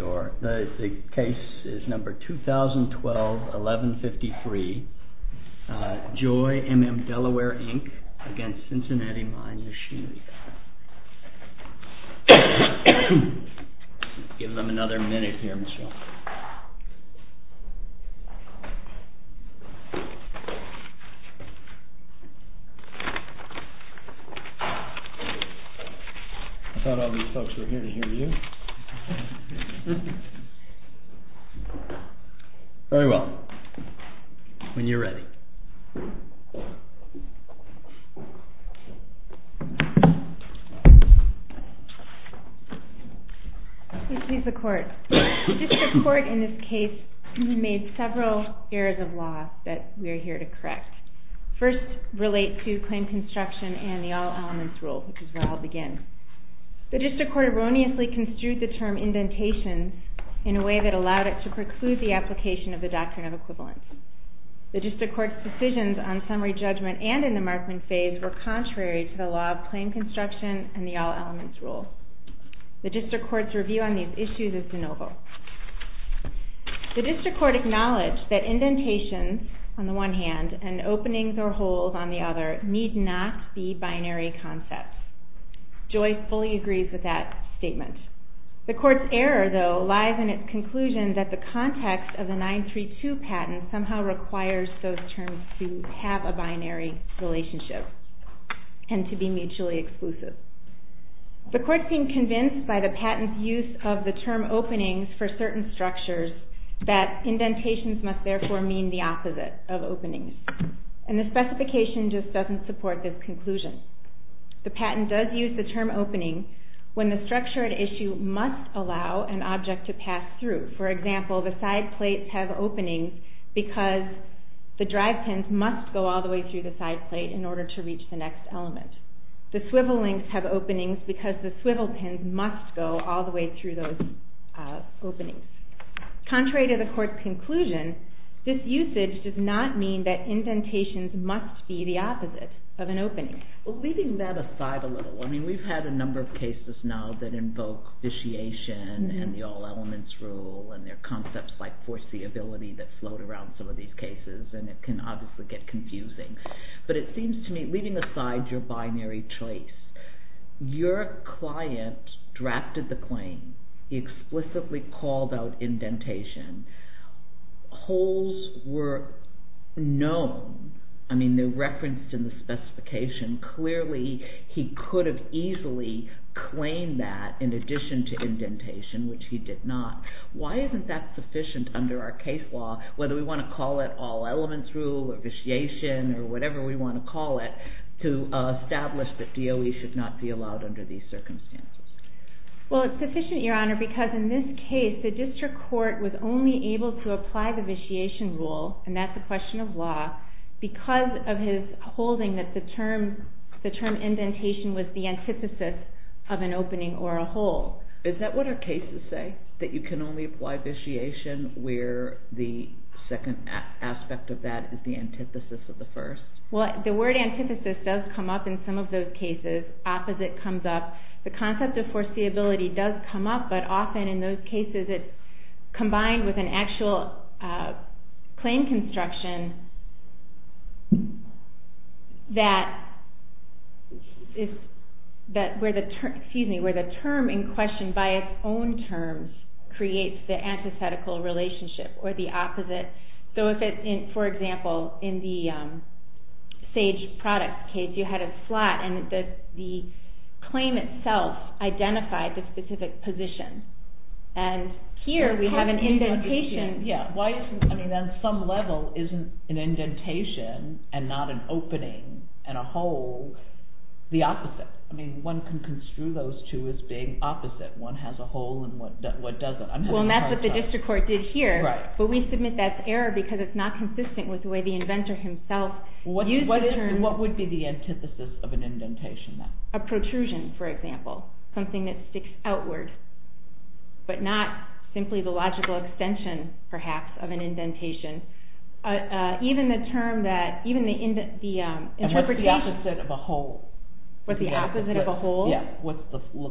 2012-11-53 JOY MM DELAWARE v. CINCINNATI MINE The District Court in this case made several errors of law that we are here to correct. First relates to claim construction and the all elements rule, which is where I'll begin. The District Court erroneously construed the term indentations in a way that allowed it to preclude the application of the doctrine of equivalence. The District Court's decisions on summary judgment and in the markman phase were contrary to the law of claim construction and the all elements rule. The District Court's review on these issues is de novo. The District Court acknowledged that indentations on the one hand and openings or holes on the other need not be binary concepts. Joy fully agrees with that statement. The Court's error, though, lies in its conclusion that the context of the 932 patent somehow requires those terms to have a binary relationship and to be mutually exclusive. The Court seemed convinced by the patent's use of the term openings for certain structures that indentations must therefore mean the opposite of openings. And the specification just doesn't support this conclusion. The patent does use the term opening when the structure at issue must allow an object to pass through. For example, the side plates have openings because the drive pins must go all the way through the side plate in order to reach the next element. The swivel links have openings because the swivel pins must go all the way through those openings. Contrary to the Court's conclusion, this usage does not mean that indentations must be the opposite of an opening. Well, leaving that aside a little, I mean we've had a number of cases now that invoke vitiation and the all elements rule and there are concepts like foreseeability that float around some of these cases and it can obviously get confusing. But it seems to me, leaving aside your binary choice, your client drafted the claim. He explicitly called out indentation. Holes were known. I mean they're referenced in the specification. Clearly, he could have easily claimed that in addition to indentation, which he did not. Why isn't that sufficient under our case law, whether we want to call it all elements rule or vitiation or whatever we want to call it, to establish that DOE should not be allowed under these circumstances? Well, it's sufficient, Your Honor, because in this case, the district court was only able to apply the vitiation rule, and that's a question of law, because of his holding that the term indentation was the antithesis of an opening or a hole. Is that what our cases say? That you can only apply vitiation where the second aspect of that is the antithesis of the first? Well, the word antithesis does come up in some of those cases. Opposite comes up. The concept of foreseeability does come up, but often in those cases it's combined with an actual claim construction that where the term in question by its own terms creates the antithetical relationship or the opposite. For example, in the Sage product case, you had a slot, and the claim itself identified the specific position. And here we have an indentation. Yeah, why isn't, I mean, on some level, isn't an indentation and not an opening and a hole the opposite? I mean, one can construe those two as being opposite. One has a hole and one doesn't. Well, and that's what the district court did here, but we submit that's error because it's not consistent with the way the inventor himself used the term. What would be the antithesis of an indentation then? A protrusion, for example. Something that sticks outward. But not simply the logical extension, perhaps, of an indentation. Even the term that, even the interpretation- What's the opposite of a hole? What's the opposite of a hole? Yeah, look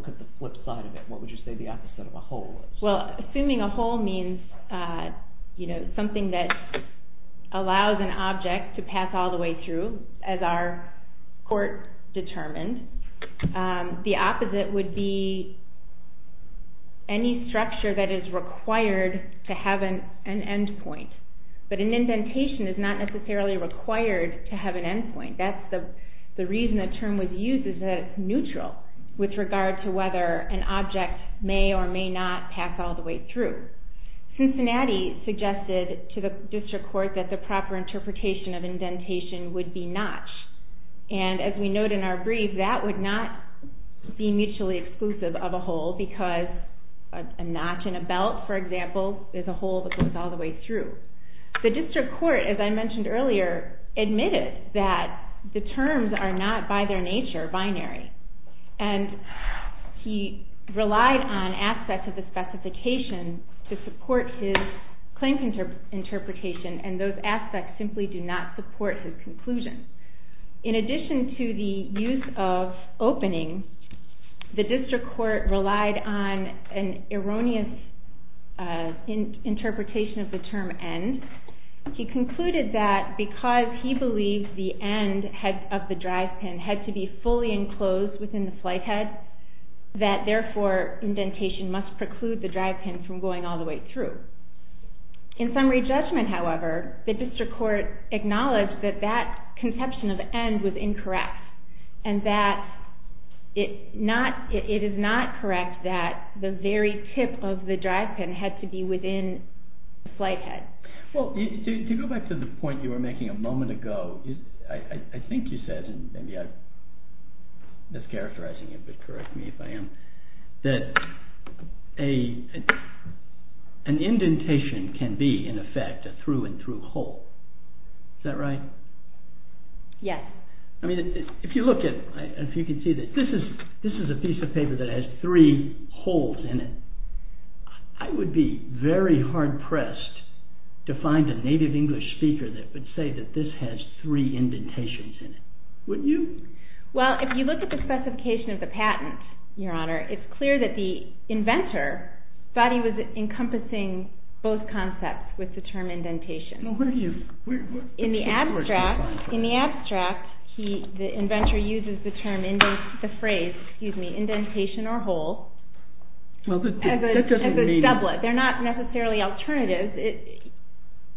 at the flip side of it. What would you say the opposite of a hole is? Well, assuming a hole means, you know, something that allows an object to pass all the way through, as our court determined, the opposite would be any structure that is required to have an endpoint. But an indentation is not necessarily required to have an endpoint. That's the reason the term was used, is that it's neutral with regard to whether an object may or may not pass all the way through. Cincinnati suggested to the district court that the proper interpretation of indentation would be notched. And as we note in our brief, that would not be mutually exclusive of a hole because a notch in a belt, for example, is a hole that goes all the way through. The district court, as I mentioned earlier, admitted that the terms are not, by their nature, binary. And he relied on aspects of the specification to support his claim interpretation, and those aspects simply do not support his conclusion. In addition to the use of opening, the district court relied on an erroneous interpretation of the term end. He concluded that because he believed the end of the drive pin had to be fully enclosed within the flight head, that therefore indentation must preclude the drive pin from going all the way through. In summary judgment, however, the district court acknowledged that that conception of end was incorrect, and that it is not correct that the very tip of the drive pin had to be within the flight head. Well, to go back to the point you were making a moment ago, I think you said, and maybe I'm mischaracterizing you, but correct me if I am, that an indentation can be, in effect, a through-and-through hole. Is that right? Yes. I mean, if you look at, if you can see that this is a piece of paper that has three holes in it, I would be very hard-pressed to find a native English speaker that would say that this has three indentations in it. Wouldn't you? Well, if you look at the specification of the patent, Your Honor, it's clear that the inventor thought he was encompassing both concepts with the term indentation. In the abstract, the inventor uses the term indentation or hole as a sublet. They're not necessarily alternatives.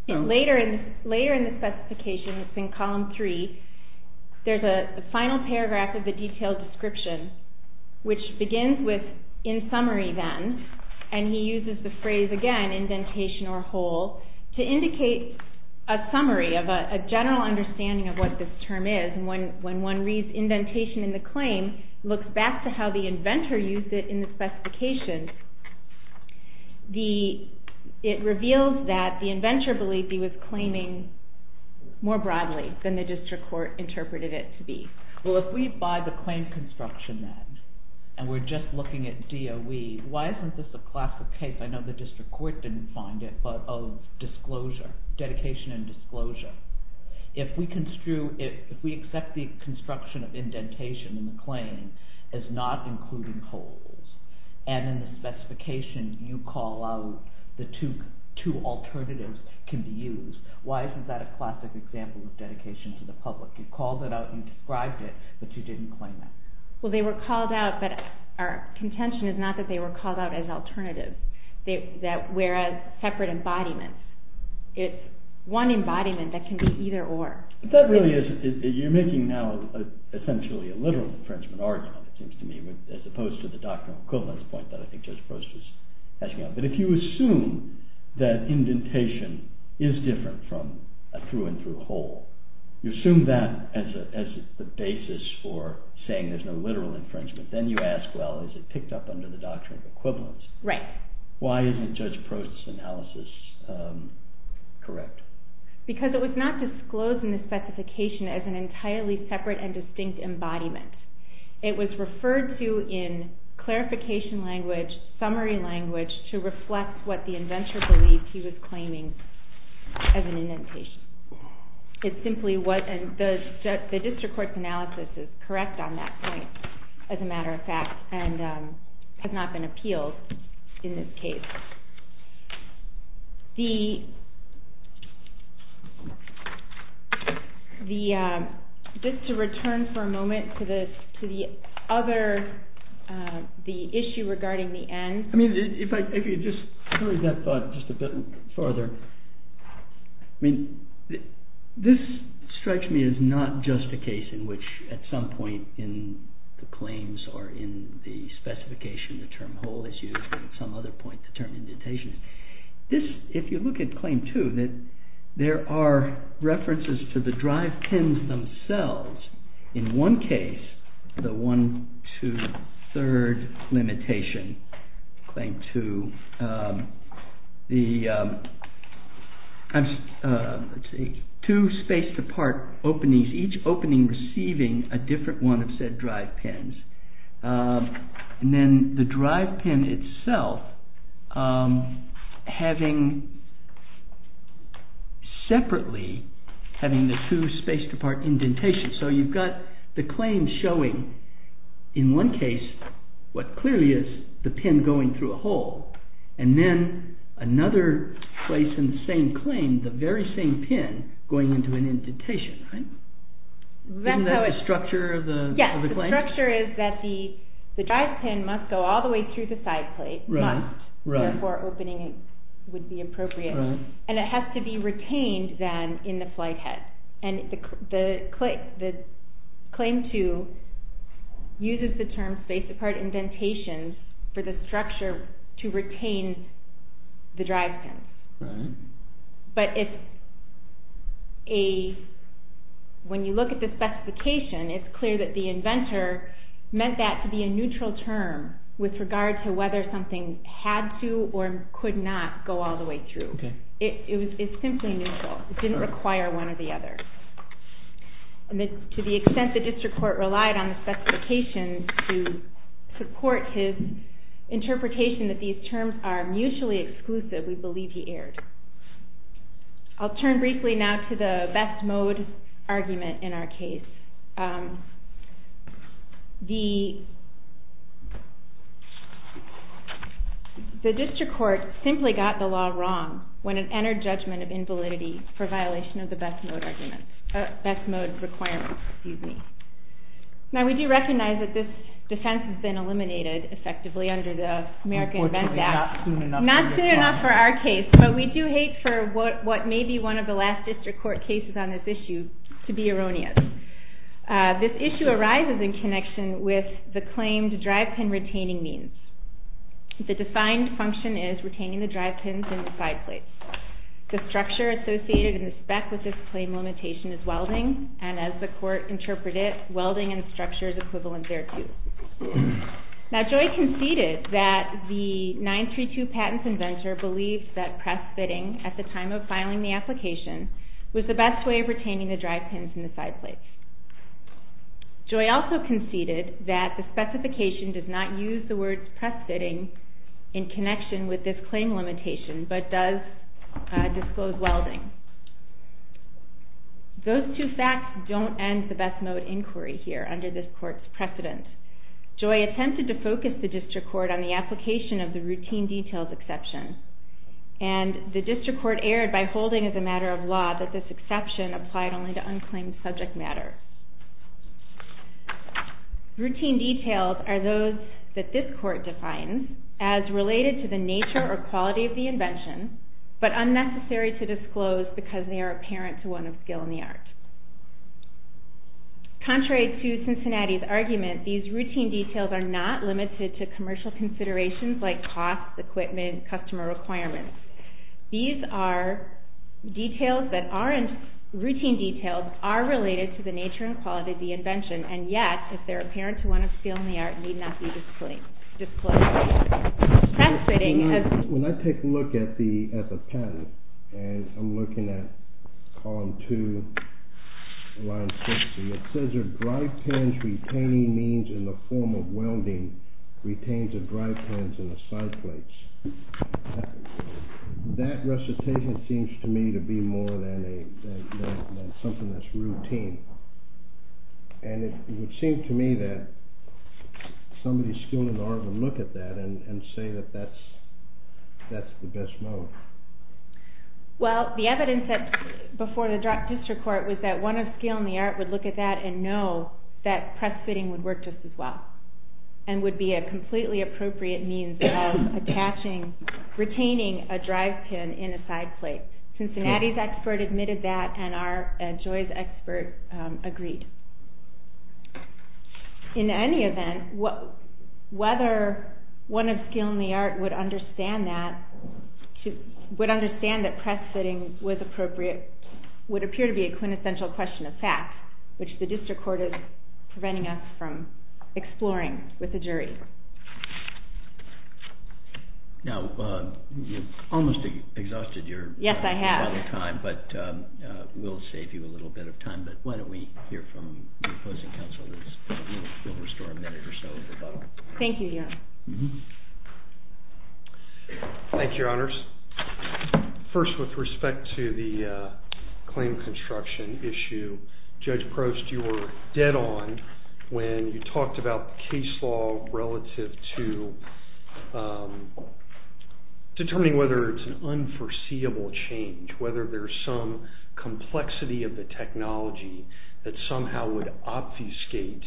Later in the specification, it's in column three, there's a final paragraph of the detailed description, which begins with, in summary then, and he uses the phrase again, indentation or hole, to indicate a summary of a general understanding of what this term is. And when one reads indentation in the claim, looks back to how the inventor used it in the specification, it reveals that the inventor believed he was claiming more broadly than the district court interpreted it to be. Well, if we buy the claim construction then, and we're just looking at DOE, why isn't this a classic case, I know the district court didn't find it, but of dedication and disclosure. If we accept the construction of indentation in the claim as not including holes, and in the specification you call out the two alternatives can be used, why isn't that a classic example of dedication to the public? You called it out, you described it, but you didn't claim it. Well, they were called out, but our contention is not that they were called out as alternatives, whereas separate embodiments, it's one embodiment that can be either or. That really is, you're making now essentially a literal Frenchman argument, it seems to me, as opposed to the doctrinal equivalence point that I think Joseph Roche was asking about. That if you assume that indentation is different from a through and through hole, you assume that as the basis for saying there's no literal infringement, then you ask, well, is it picked up under the doctrine of equivalence? Right. Why isn't Judge Prost's analysis correct? Because it was not disclosed in the specification as an entirely separate and distinct embodiment. It was referred to in clarification language, summary language, to reflect what the inventor believed he was claiming as an indentation. The district court's analysis is correct on that point, as a matter of fact, and has not been appealed in this case. Just to return for a moment to the issue regarding the end. If you just throw that thought just a bit further, this strikes me as not just a case in which at some point in the claims or in the specification the term hole is used, but at some other point the term indentation is. If you look at claim two, there are references to the drive pins themselves. In one case, the one, two, third limitation, claim two, two spaced apart openings, each opening receiving a different one of said drive pins. Then the drive pin itself having separately, having the two spaced apart indentations. So you've got the claim showing in one case what clearly is the pin going through a hole, and then another place in the same claim, the very same pin going into an indentation. Isn't that the structure of the claim? The structure is that the drive pin must go all the way through the side plate, must, therefore opening would be appropriate, and it has to be retained then in the flight head. The claim two uses the term spaced apart indentations for the structure to retain the drive pins. But when you look at the specification, it's clear that the inventor meant that to be a neutral term with regard to whether something had to or could not go all the way through. It's simply neutral. It didn't require one or the other. To the extent the district court relied on the specification to support his interpretation that these terms are mutually exclusive, we believe he erred. I'll turn briefly now to the best mode argument in our case. The district court simply got the law wrong when it entered judgment of invalidity for violation of the best mode requirement. Now, we do recognize that this defense has been eliminated, effectively, under the American Invent Act. Unfortunately, not soon enough for our case. But we do hate for what may be one of the last district court cases on this issue to be erroneous. This issue arises in connection with the claim to drive pin retaining means. The defined function is retaining the drive pins in the side plates. The structure associated in the spec with this claim limitation is welding, and as the court interpreted, welding and structure is equivalent thereto. Now, Joy conceded that the 932 patents inventor believed that press fitting at the time of filing the application was the best way of retaining the drive pins in the side plates. Joy also conceded that the specification does not use the word press fitting in connection with this claim limitation, but does disclose welding. Those two facts don't end the best mode inquiry here under this court's precedent. Joy attempted to focus the district court on the application of the routine details exception, and the district court erred by holding as a matter of law that this exception applied only to unclaimed subject matter. Routine details are those that this court defines as related to the nature or quality of the invention, but unnecessary to disclose because they are apparent to one of skill in the art. Contrary to Cincinnati's argument, these routine details are not limited to commercial considerations like cost, equipment, customer requirements. These are details that aren't routine details, are related to the nature and quality of the invention, and yet, if they're apparent to one of skill in the art, need not be disclosed. When I take a look at the patent, and I'm looking at column 2, line 6, it says your drive pins retaining means in the form of welding retains the drive pins in the side plates. That recitation seems to me to be more than something that's routine, and it would seem to me that somebody skilled in the art would look at that and say that that's the best mode. Well, the evidence before the district court was that one of skill in the art would look at that and know that press fitting would work just as well, and would be a completely appropriate means of retaining a drive pin in a side plate. Cincinnati's expert admitted that, and Joy's expert agreed. In any event, whether one of skill in the art would understand that, would understand that press fitting was appropriate, would appear to be a quintessential question of fact, which the district court is preventing us from exploring with the jury. Now, you've almost exhausted your time, but we'll save you a little bit of time, but why don't we hear from the opposing counsel, and we'll restore a minute or so of rebuttal. Thank you, Your Honor. Thank you, Your Honors. First, with respect to the claim construction issue, Judge Prost, you were dead on when you talked about case law relative to determining whether it's an unforeseeable change, whether there's some complexity of the technology that somehow would obfuscate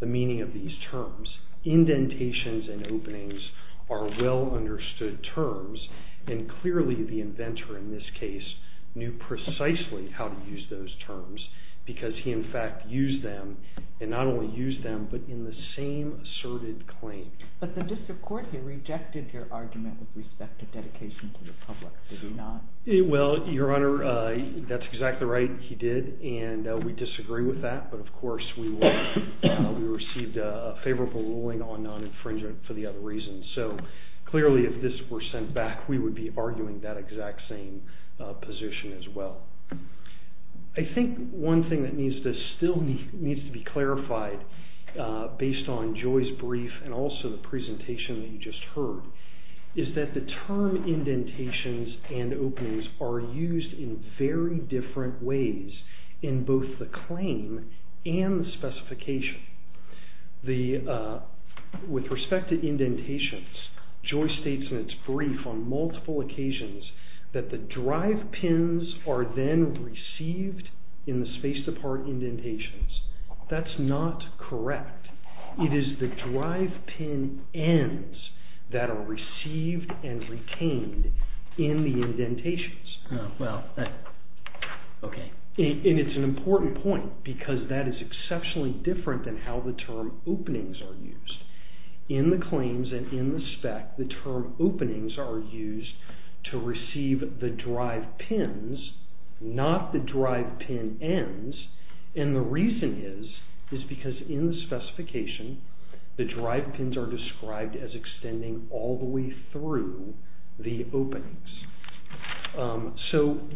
the meaning of these terms. Indentations and openings are well understood terms, and clearly the inventor in this case knew precisely how to use those terms, because he in fact used them, and not only used them, but in the same asserted claim. But the district court here rejected your argument with respect to dedication to the public, did it not? Well, Your Honor, that's exactly right, he did, and we disagree with that, but of course we received a favorable ruling on non-infringement for the other reasons, so clearly if this were sent back, we would be arguing that exact same position as well. I think one thing that still needs to be clarified, based on Joy's brief, and also the presentation that you just heard, is that the term indentations and openings are used in very different ways in both the claim and the specification. With respect to indentations, Joy states in its brief on multiple occasions that the drive pins are then received in the spaced apart indentations. That's not correct. It is the drive pin ends that are received and retained in the indentations. And it's an important point, because that is exceptionally different than how the term openings are used. In the claims and in the spec, the term openings are used to receive the drive pins, not the drive pin ends, and the reason is, is because in the specification, the drive pins are described as extending all the way through the openings. But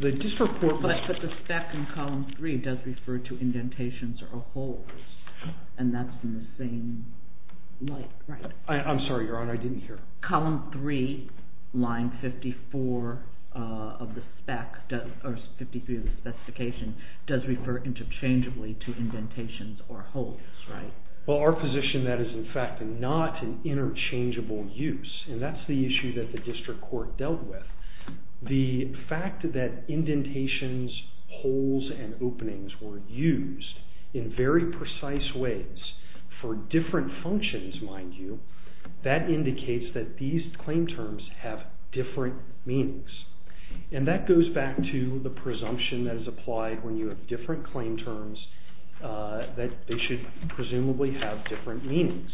the spec in column 3 does refer to indentations or holes, and that's in the same light, right? I'm sorry, Your Honor, I didn't hear. Column 3, line 54 of the spec, or 53 of the specification, does refer interchangeably to indentations or holes, right? Well, our position, that is in fact not an interchangeable use, and that's the issue that the district court dealt with. The fact that indentations, holes, and openings were used in very precise ways for different functions, mind you, that indicates that these claim terms have different meanings. And that goes back to the presumption that is applied when you have different claim terms that they should presumably have different meanings.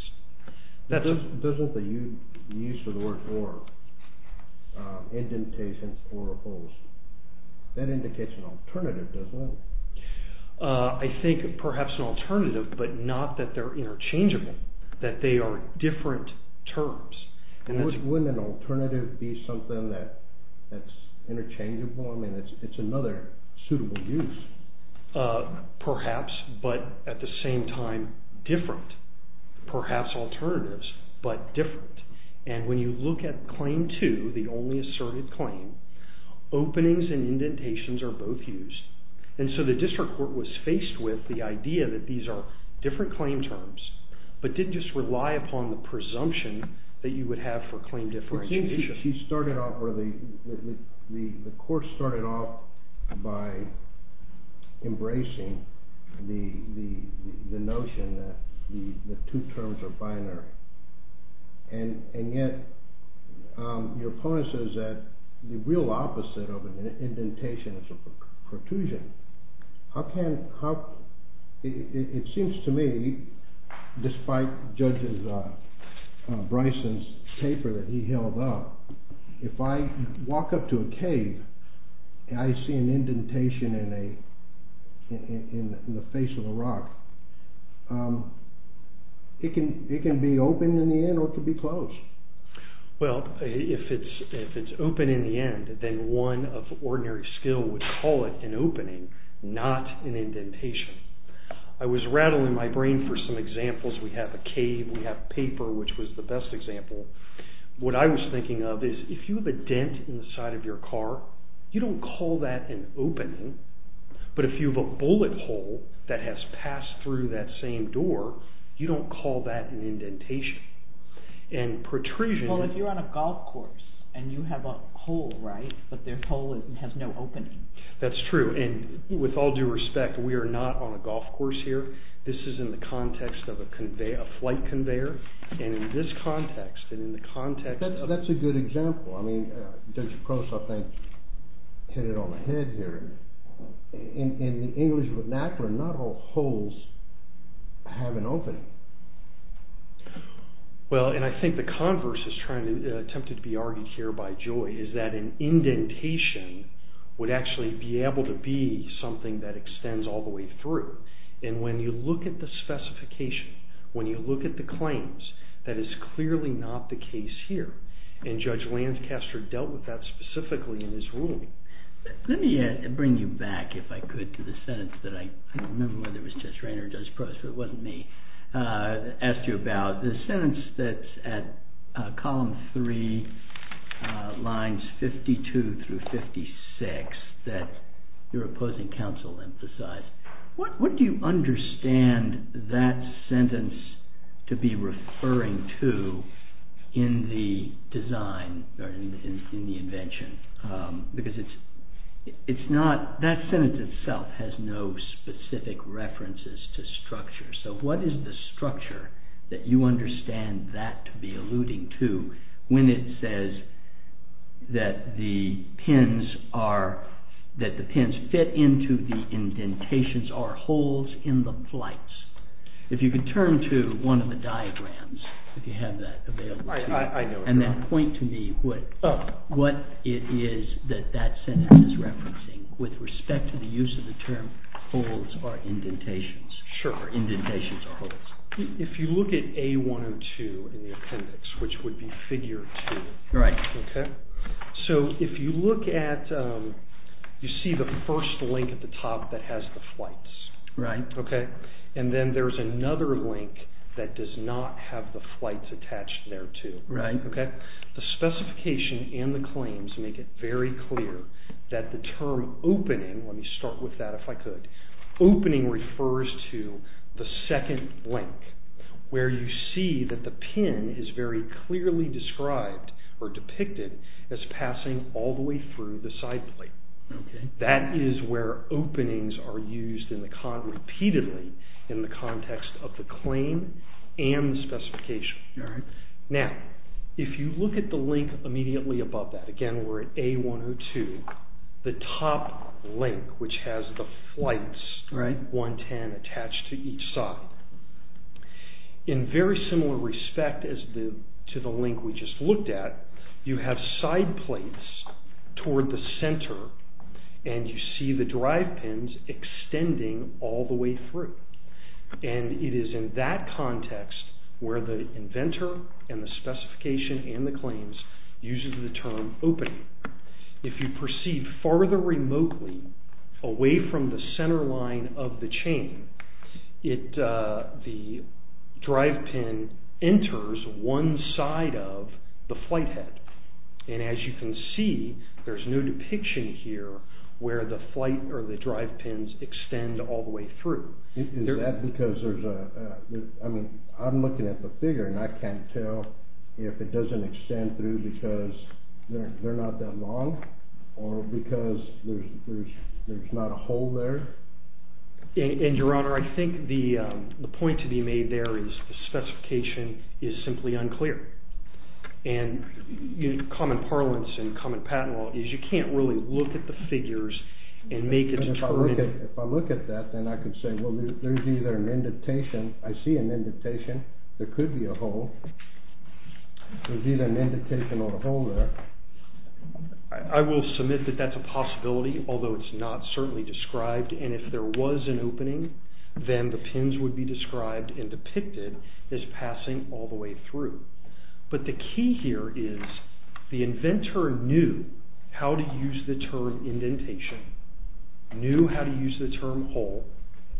That's not the use of the word or. Indentations or holes. That indicates an alternative, doesn't it? I think perhaps an alternative, but not that they're interchangeable, that they are different terms. And wouldn't an alternative be something that's interchangeable? I mean, it's another suitable use. Perhaps, but at the same time, different. Perhaps alternatives, but different. And when you look at Claim 2, the only asserted claim, openings and indentations are both used. And so the district court was faced with the idea that these are different claim terms, but didn't just rely upon the presumption that you would have for claim differentiation. It seems the court started off by embracing the notion that the two terms are binary. And yet, your opponent says that the real opposite of an indentation is a protrusion. It seems to me, despite Judge Bryson's paper that he held up, if I walk up to a cave and I see an indentation in the face of a rock, it can be open in the end or it can be closed. Well, if it's open in the end, then one of ordinary skill would call it an opening, not an indentation. I was rattling my brain for some examples. We have a cave, we have paper, which was the best example. What I was thinking of is if you have a dent in the side of your car, you don't call that an opening. But if you have a bullet hole that has passed through that same door, you don't call that an indentation. Well, if you're on a golf course and you have a hole, right? But their hole has no opening. That's true. And with all due respect, we are not on a golf course here. This is in the context of a flight conveyor. And in this context and in the context of... That's a good example. I mean, Judge Gross, I think, hit it on the head here. In the English vernacular, not all holes have an opening. Well, and I think the converse is attempted to be argued here by Joy, is that an indentation would actually be able to be something that extends all the way through. And when you look at the specification, when you look at the claims, that is clearly not the case here. And Judge Lancaster dealt with that specifically in his ruling. Let me bring you back, if I could, to the sentence that I... I don't remember whether it was Judge Rainer or Judge Probst, but it wasn't me, asked you about. The sentence that's at column 3, lines 52 through 56, that your opposing counsel emphasized. What do you understand that sentence to be referring to in the design or in the invention? Because it's not... That sentence itself has no specific references to structure. So what is the structure that you understand that to be alluding to when it says that the pins are... that the pins fit into the indentations or holes in the flights? If you could turn to one of the diagrams, if you have that available to you, and then point to me what it is that that sentence is referencing with respect to the use of the term holes or indentations, or indentations or holes. If you look at A102 in the appendix, which would be figure 2, so if you look at... you see the first link at the top that has the flights, and then there's another link that does not have the flights attached there too. The specification and the claims make it very clear that the term opening, let me start with that if I could, opening refers to the second link where you see that the pin is very clearly described or depicted as passing all the way through the side plate. That is where openings are used repeatedly in the context of the claim and the specification. Now, if you look at the link immediately above that, again we're at A102, the top link, which has the flights 110 attached to each side. In very similar respect to the link we just looked at, you have side plates toward the center and you see the drive pins extending all the way through. And it is in that context where the inventor and the specification and the claims uses the term opening. If you proceed farther remotely away from the center line of the chain, the drive pin enters one side of the flight head. And as you can see, there's no depiction here where the flight or the drive pins extend all the way through. Is that because there's a, I mean, I'm looking at the figure and I can't tell if it doesn't extend through because they're not that long or because there's not a hole there? And, Your Honor, I think the point to be made there is the specification is simply unclear. And common parlance in common patent law is you can't really look at the figures and make a determination. If I look at that, then I can say, well, there's either an indentation. I see an indentation. There could be a hole. There's either an indentation or a hole there. I will submit that that's a possibility, although it's not certainly described. And if there was an opening, then the pins would be described and depicted as passing all the way through. But the key here is the inventor knew how to use the term indentation, knew how to use the term hole,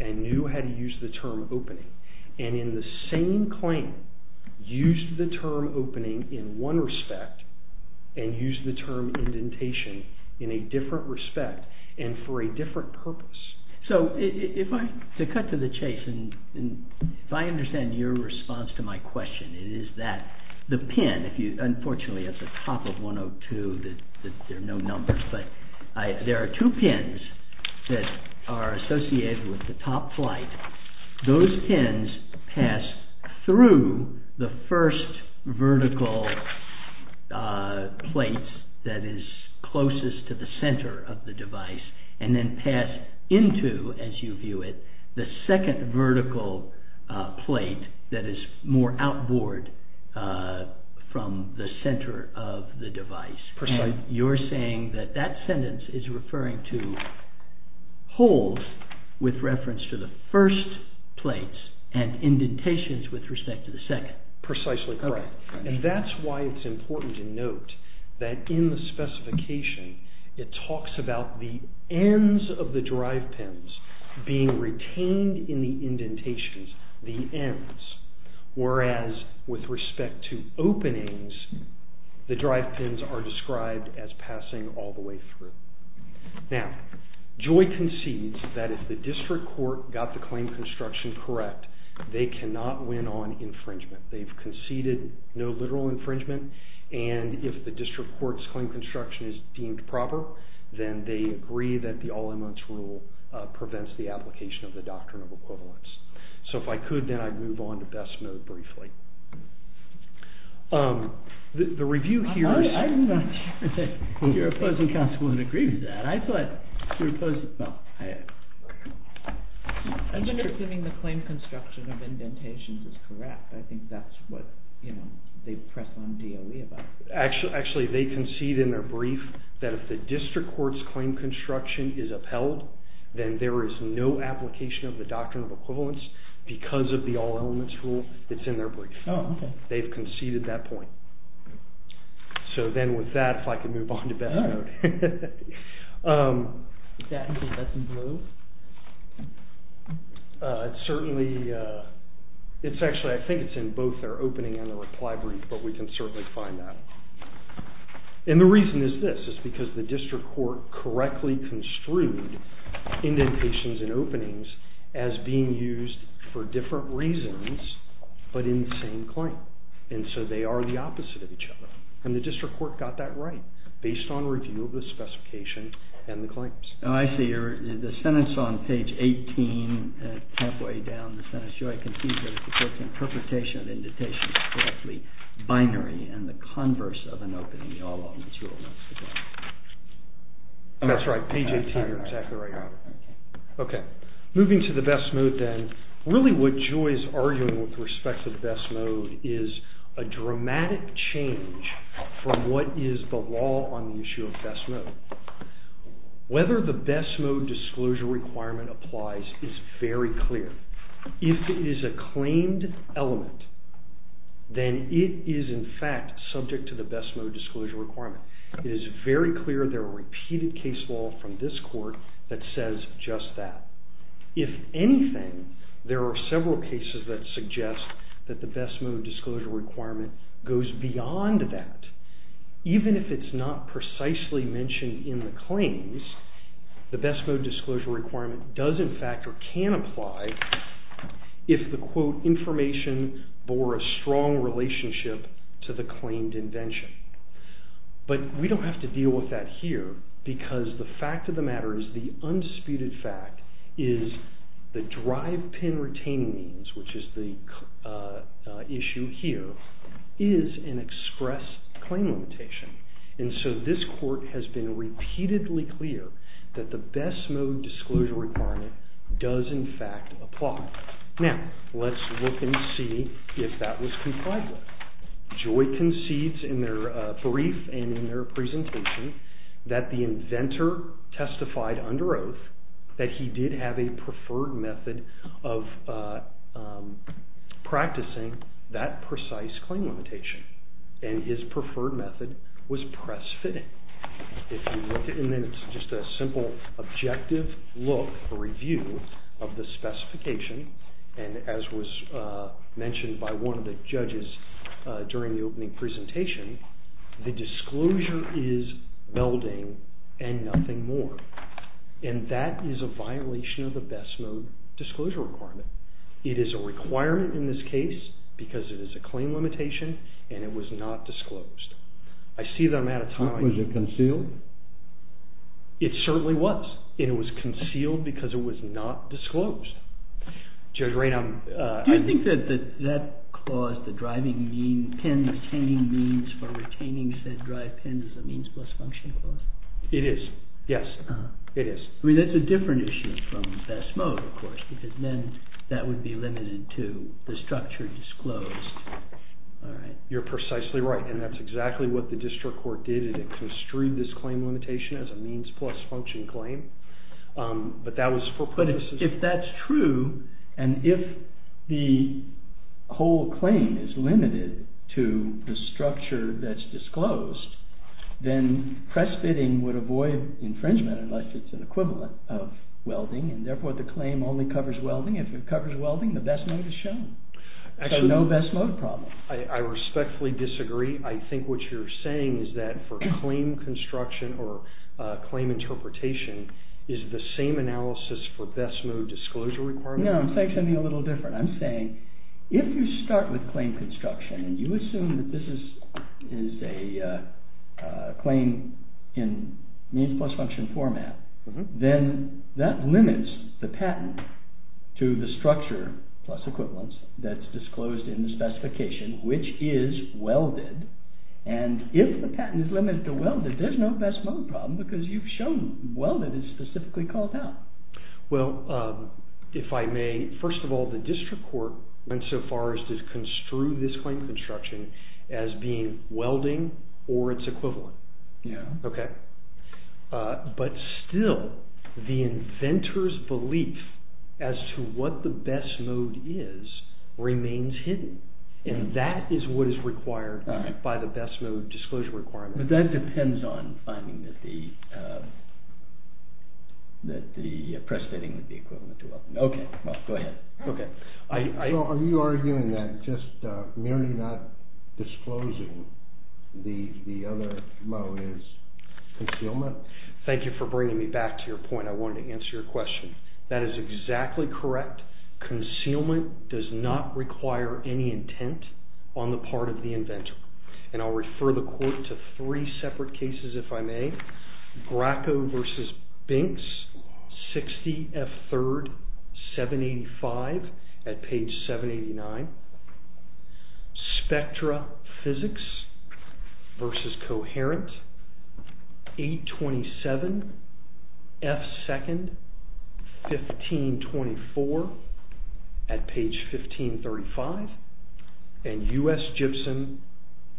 and knew how to use the term opening. And in the same claim, used the term opening in one respect and used the term indentation in a different respect and for a different purpose. So, to cut to the chase, if I understand your response to my question, it is that the pin, unfortunately, at the top of 102, there are no numbers, but there are two pins that are associated with the top flight. Those pins pass through the first vertical plate that is closest to the center of the device and then pass into, as you view it, the second vertical plate that is more outboard from the center of the device. And you're saying that that sentence is referring to holes with reference to the first plate and indentations with respect to the second. Precisely correct. And that's why it's important to note that in the specification, it talks about the ends of the drive pins being retained in the indentations, the ends, whereas with respect to openings, the drive pins are described as passing all the way through. Now, Joy concedes that if the district court got the claim construction correct, they cannot win on infringement. They've conceded no literal infringement, and if the district court's claim construction is deemed proper, then they agree that the all-in-once rule prevents the application of the doctrine of equivalence. So if I could, then I'd move on to best mode briefly. The review here is... Your opposing counsel would agree with that. I thought... I'm assuming the claim construction of indentations is correct. I think that's what they press on DOE about. Actually, they concede in their brief that if the district court's claim construction is upheld, then there is no application of the doctrine of equivalence because of the all-in-once rule that's in their brief. They've conceded that point. So, then, with that, if I could move on to best mode. It's certainly... Actually, I think it's in both their opening and their reply brief, but we can certainly find that. And the reason is this. It's because the district court correctly construed indentations and openings as being used for different reasons but in the same claim. And so they are the opposite of each other. And the district court got that right based on review of the specification and the claims. Oh, I see. The sentence on page 18, halfway down the sentence, Joy concedes that if the court's interpretation of indentations is correctly binary and the converse of an opening, the all-in-once rule is correct. That's right. Page 18, you're exactly right. OK. Moving to the best mode, then. Really, what Joy is arguing with respect to the best mode is a dramatic change from what is the law on the issue of best mode. Whether the best mode disclosure requirement applies is very clear. If it is a claimed element, then it is, in fact, subject to the best mode disclosure requirement. It is very clear they're a repeated case law from this court that says just that. If anything, there are several cases that suggest that the best mode disclosure requirement goes beyond that. Even if it's not precisely mentioned in the claims, the best mode disclosure requirement does, in fact, or can apply if the, quote, information bore a strong relationship to the claimed invention. But we don't have to deal with that here because the fact of the matter is the undisputed fact is the drive pin retaining means, which is the issue here, is an express claim limitation. And so this court has been repeatedly clear that the best mode disclosure requirement does, in fact, apply. Now, let's look and see if that was complied with. Joy concedes in their brief and in their presentation that the inventor testified under oath that he did have a preferred method of practicing that precise claim limitation. And his preferred method was press fitting. And then it's just a simple objective look, a review of the specification, and as was mentioned by one of the judges during the opening presentation, the disclosure is melding and nothing more. And that is a violation of the best mode disclosure requirement. It is a requirement in this case because it is a claim limitation and it was not disclosed. I see that I'm out of time. Was it concealed? It certainly was. And it was concealed because it was not disclosed. Judge Ray, I'm... Do you think that that clause, the driving mean, pin retaining means for retaining said drive pin is a means plus function clause? It is, yes. It is. I mean, that's a different issue from best mode, of course, because then that would be limited to the structure disclosed. You're precisely right, and that's exactly what the district court did. It construed this claim limitation as a means plus function claim. But that was for purposes... But if that's true, and if the whole claim is limited to the structure that's disclosed, then press fitting would avoid infringement unless it's an equivalent of welding, and therefore the claim only covers welding. If it covers welding, the best mode is shown. So no best mode problem. I respectfully disagree. I think what you're saying is that for claim construction or claim interpretation is the same analysis for best mode disclosure requirement? No, I'm saying something a little different. I'm saying if you start with claim construction and you assume that this is a claim in means plus function format, then that limits the patent to the structure plus equivalence that's disclosed in the specification, which is welded. And if the patent is limited to welding, there's no best mode problem because you've shown welding is specifically called out. Well, if I may, first of all, the district court went so far as to construe this claim construction as being welding or its equivalent. Okay? But still, the inventor's belief as to what the best mode is remains hidden, and that is what is required by the best mode disclosure requirement. But that depends on finding that the... that the press fitting would be equivalent to welding. Okay, well, go ahead. Okay. Well, are you arguing that just merely not disclosing the other mode is concealment? Thank you for bringing me back to your point. I wanted to answer your question. That is exactly correct. Concealment does not require any intent on the part of the inventor. And I'll refer the court to three separate cases, if I may. Bracco v. Binks, 60 F. 3rd, 785, at page 789. Spectra Physics v. Coherent, 827 F. 2nd, 1524, at page 1535. And U.S. Gibson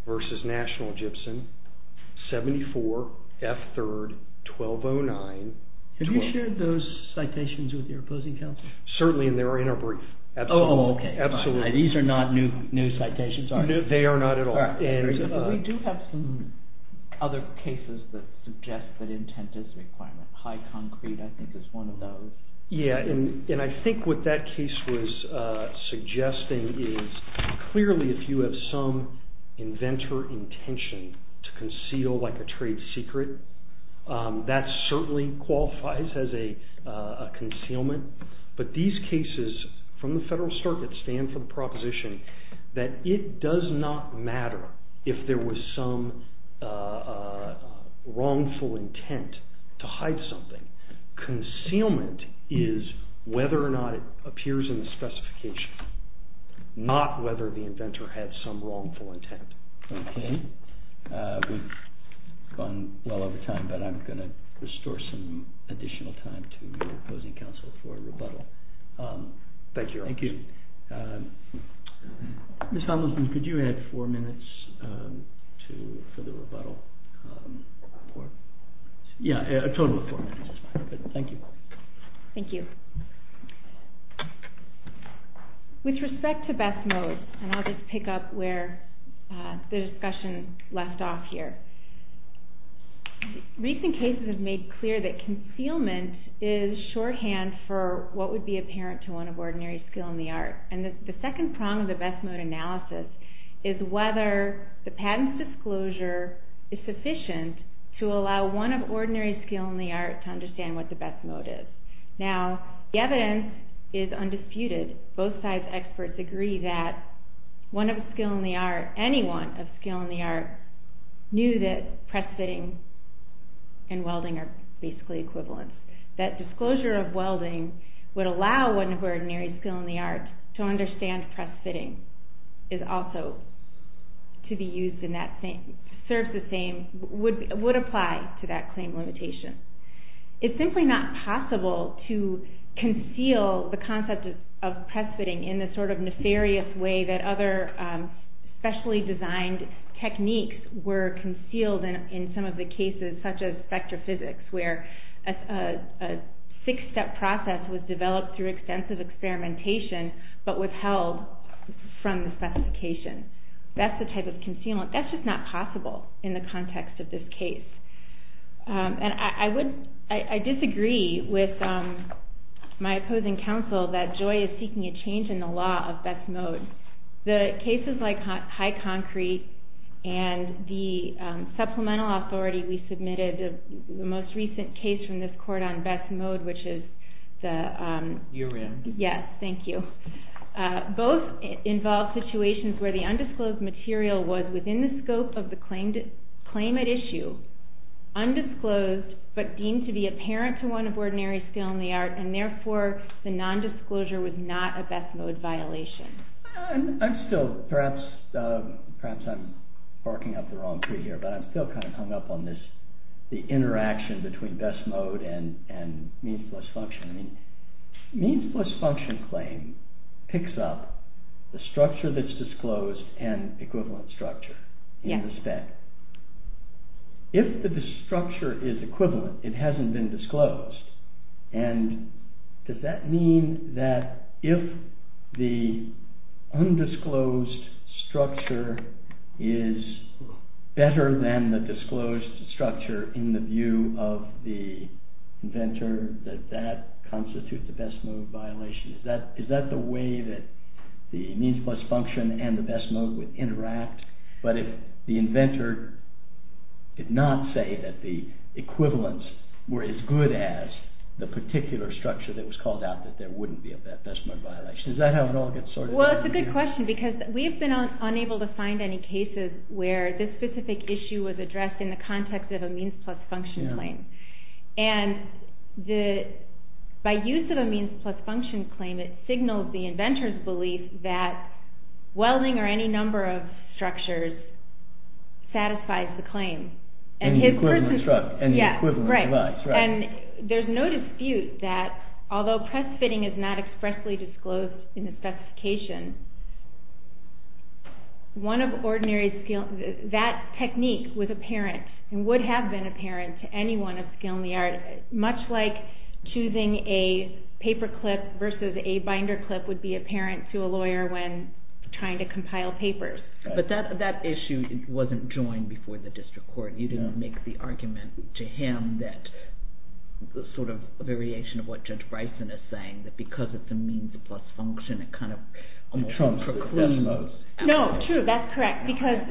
v. National Gibson, 74 F. 3rd, 1209. Have you shared those citations with your opposing counsel? Certainly, and they are in our brief. Oh, okay. These are not new citations, are they? They are not at all. We do have some other cases that suggest that intent is a requirement. High Concrete, I think, is one of those. Yeah, and I think what that case was suggesting is clearly if you have some inventor intention to conceal like a trade secret, that certainly qualifies as a concealment. But these cases from the Federal Circuit stand for the proposition that it does not matter if there was some wrongful intent to hide something. Concealment is whether or not it appears in the specification, not whether the inventor had some wrongful intent. Okay. We've gone well over time, but I'm going to restore some additional time to your opposing counsel for a rebuttal. Thank you. Thank you. Ms. Tomlinson, could you add four minutes for the rebuttal? Yeah, a total of four minutes is fine. Thank you. Thank you. With respect to best modes, and I'll just pick up where the discussion left off here, recent cases have made clear that concealment is shorthand for what would be apparent to one of ordinary skill in the art. And the second prong of the best mode analysis is whether the patent's disclosure is sufficient to allow one of ordinary skill in the art to understand what the best mode is. Now, the evidence is undisputed. Both sides' experts agree that one of skill in the art, anyone of skill in the art, knew that press fitting and welding are basically equivalent, that disclosure of welding would allow one of ordinary skill in the art to understand press fitting is also to be used in that same, serves the same, would apply to that claim limitation. It's simply not possible to conceal the concept of press fitting in the sort of nefarious way that other specially designed techniques were concealed in some of the cases such as spectrophysics, where a six-step process was developed through extensive experimentation but withheld from the specification. That's the type of concealment. That's just not possible in the context of this case. And I disagree with my opposing counsel that Joy is seeking a change in the law of best mode. The cases like High Concrete and the supplemental authority we submitted, the most recent case from this court on best mode, which is the... You're in. Yes, thank you. Both involve situations where the undisclosed material was within the scope of the claim at issue, undisclosed, but deemed to be apparent to one of ordinary skill in the art, and therefore the nondisclosure was not a best mode violation. I'm still, perhaps I'm barking up the wrong tree here, but I'm still kind of hung up on this, the interaction between best mode and means-plus-function. Means-plus-function claim picks up the structure that's disclosed and equivalent structure in the spec. If the structure is equivalent, it hasn't been disclosed, and does that mean that if the undisclosed structure is better than the disclosed structure in the view of the inventor that that constitutes a best mode violation? Is that the way that the means-plus-function and the best mode would interact? But if the inventor did not say that the equivalents were as good as the particular structure that was called out that there wouldn't be a best mode violation. Is that how it all gets sorted? Well, it's a good question because we have been unable to find any cases where this specific issue was addressed in the context of a means-plus-function claim. And by use of a means-plus-function claim, it signals the inventor's belief that welding or any number of structures satisfies the claim. And the equivalent structure, and the equivalent device, right. And there's no dispute that although press fitting is not expressly disclosed in the specification, that technique was apparent and would have been apparent to anyone of skill in the art. Much like choosing a paper clip versus a binder clip would be apparent to a lawyer when trying to compile papers. But that issue wasn't joined before the district court. You didn't make the argument to him that sort of a variation of what Judge Bryson is saying that because it's a means-plus-function, it kind of almost precludes... No, true, that's correct. Because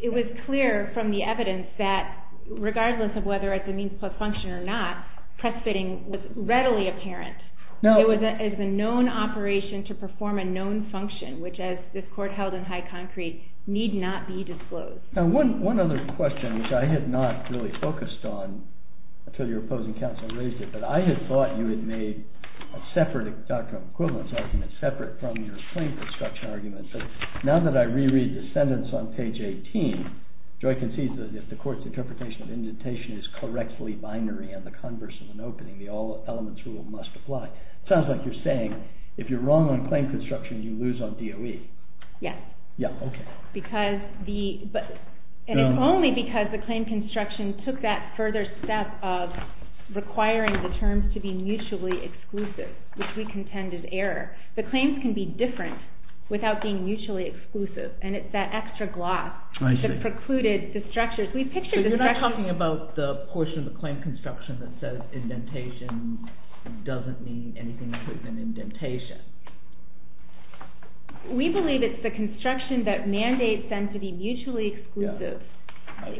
it was clear from the evidence that regardless of whether it's a means-plus-function or not, press fitting was readily apparent. It was a known operation to perform a known function, which as this court held in high concrete, need not be disclosed. Now one other question, which I had not really focused on until your opposing counsel raised it, but I had thought you had made a separate doctrinal equivalence argument separate from your claim construction argument. So now that I reread the sentence on page 18, do I concede that if the court's interpretation of indentation is correctfully binary and the converse of an opening, the all-elements rule must apply? It sounds like you're saying if you're wrong on claim construction, you lose on DOE. Yes. Yeah, okay. Because the... And it's only because the claim construction took that further step of requiring the terms to be mutually exclusive, which we contend is error. The claims can be different without being mutually exclusive, and it's that extra gloss... I see. ...that precluded the structures. We pictured the structures... But you're not talking about the portion of the claim construction that says indentation doesn't mean anything other than indentation. We believe it's the construction that mandates them to be mutually exclusive,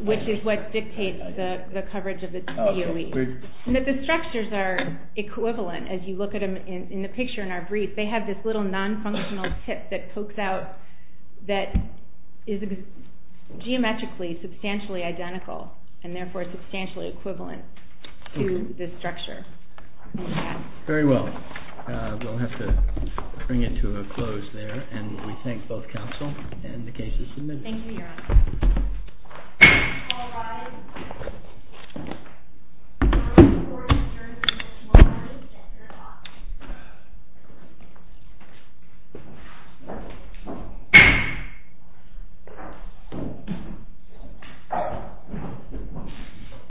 which is what dictates the coverage of the DOE. Okay. And that the structures are equivalent as you look at them in the picture in our brief. They have this little non-functional tip that pokes out that is geometrically substantially identical and therefore substantially equivalent to this structure. Very well. We'll have to bring it to a close there, and we thank both counsel and the case's submitters. Thank you, Your Honor. All rise. The court adjourns until tomorrow at 3 o'clock.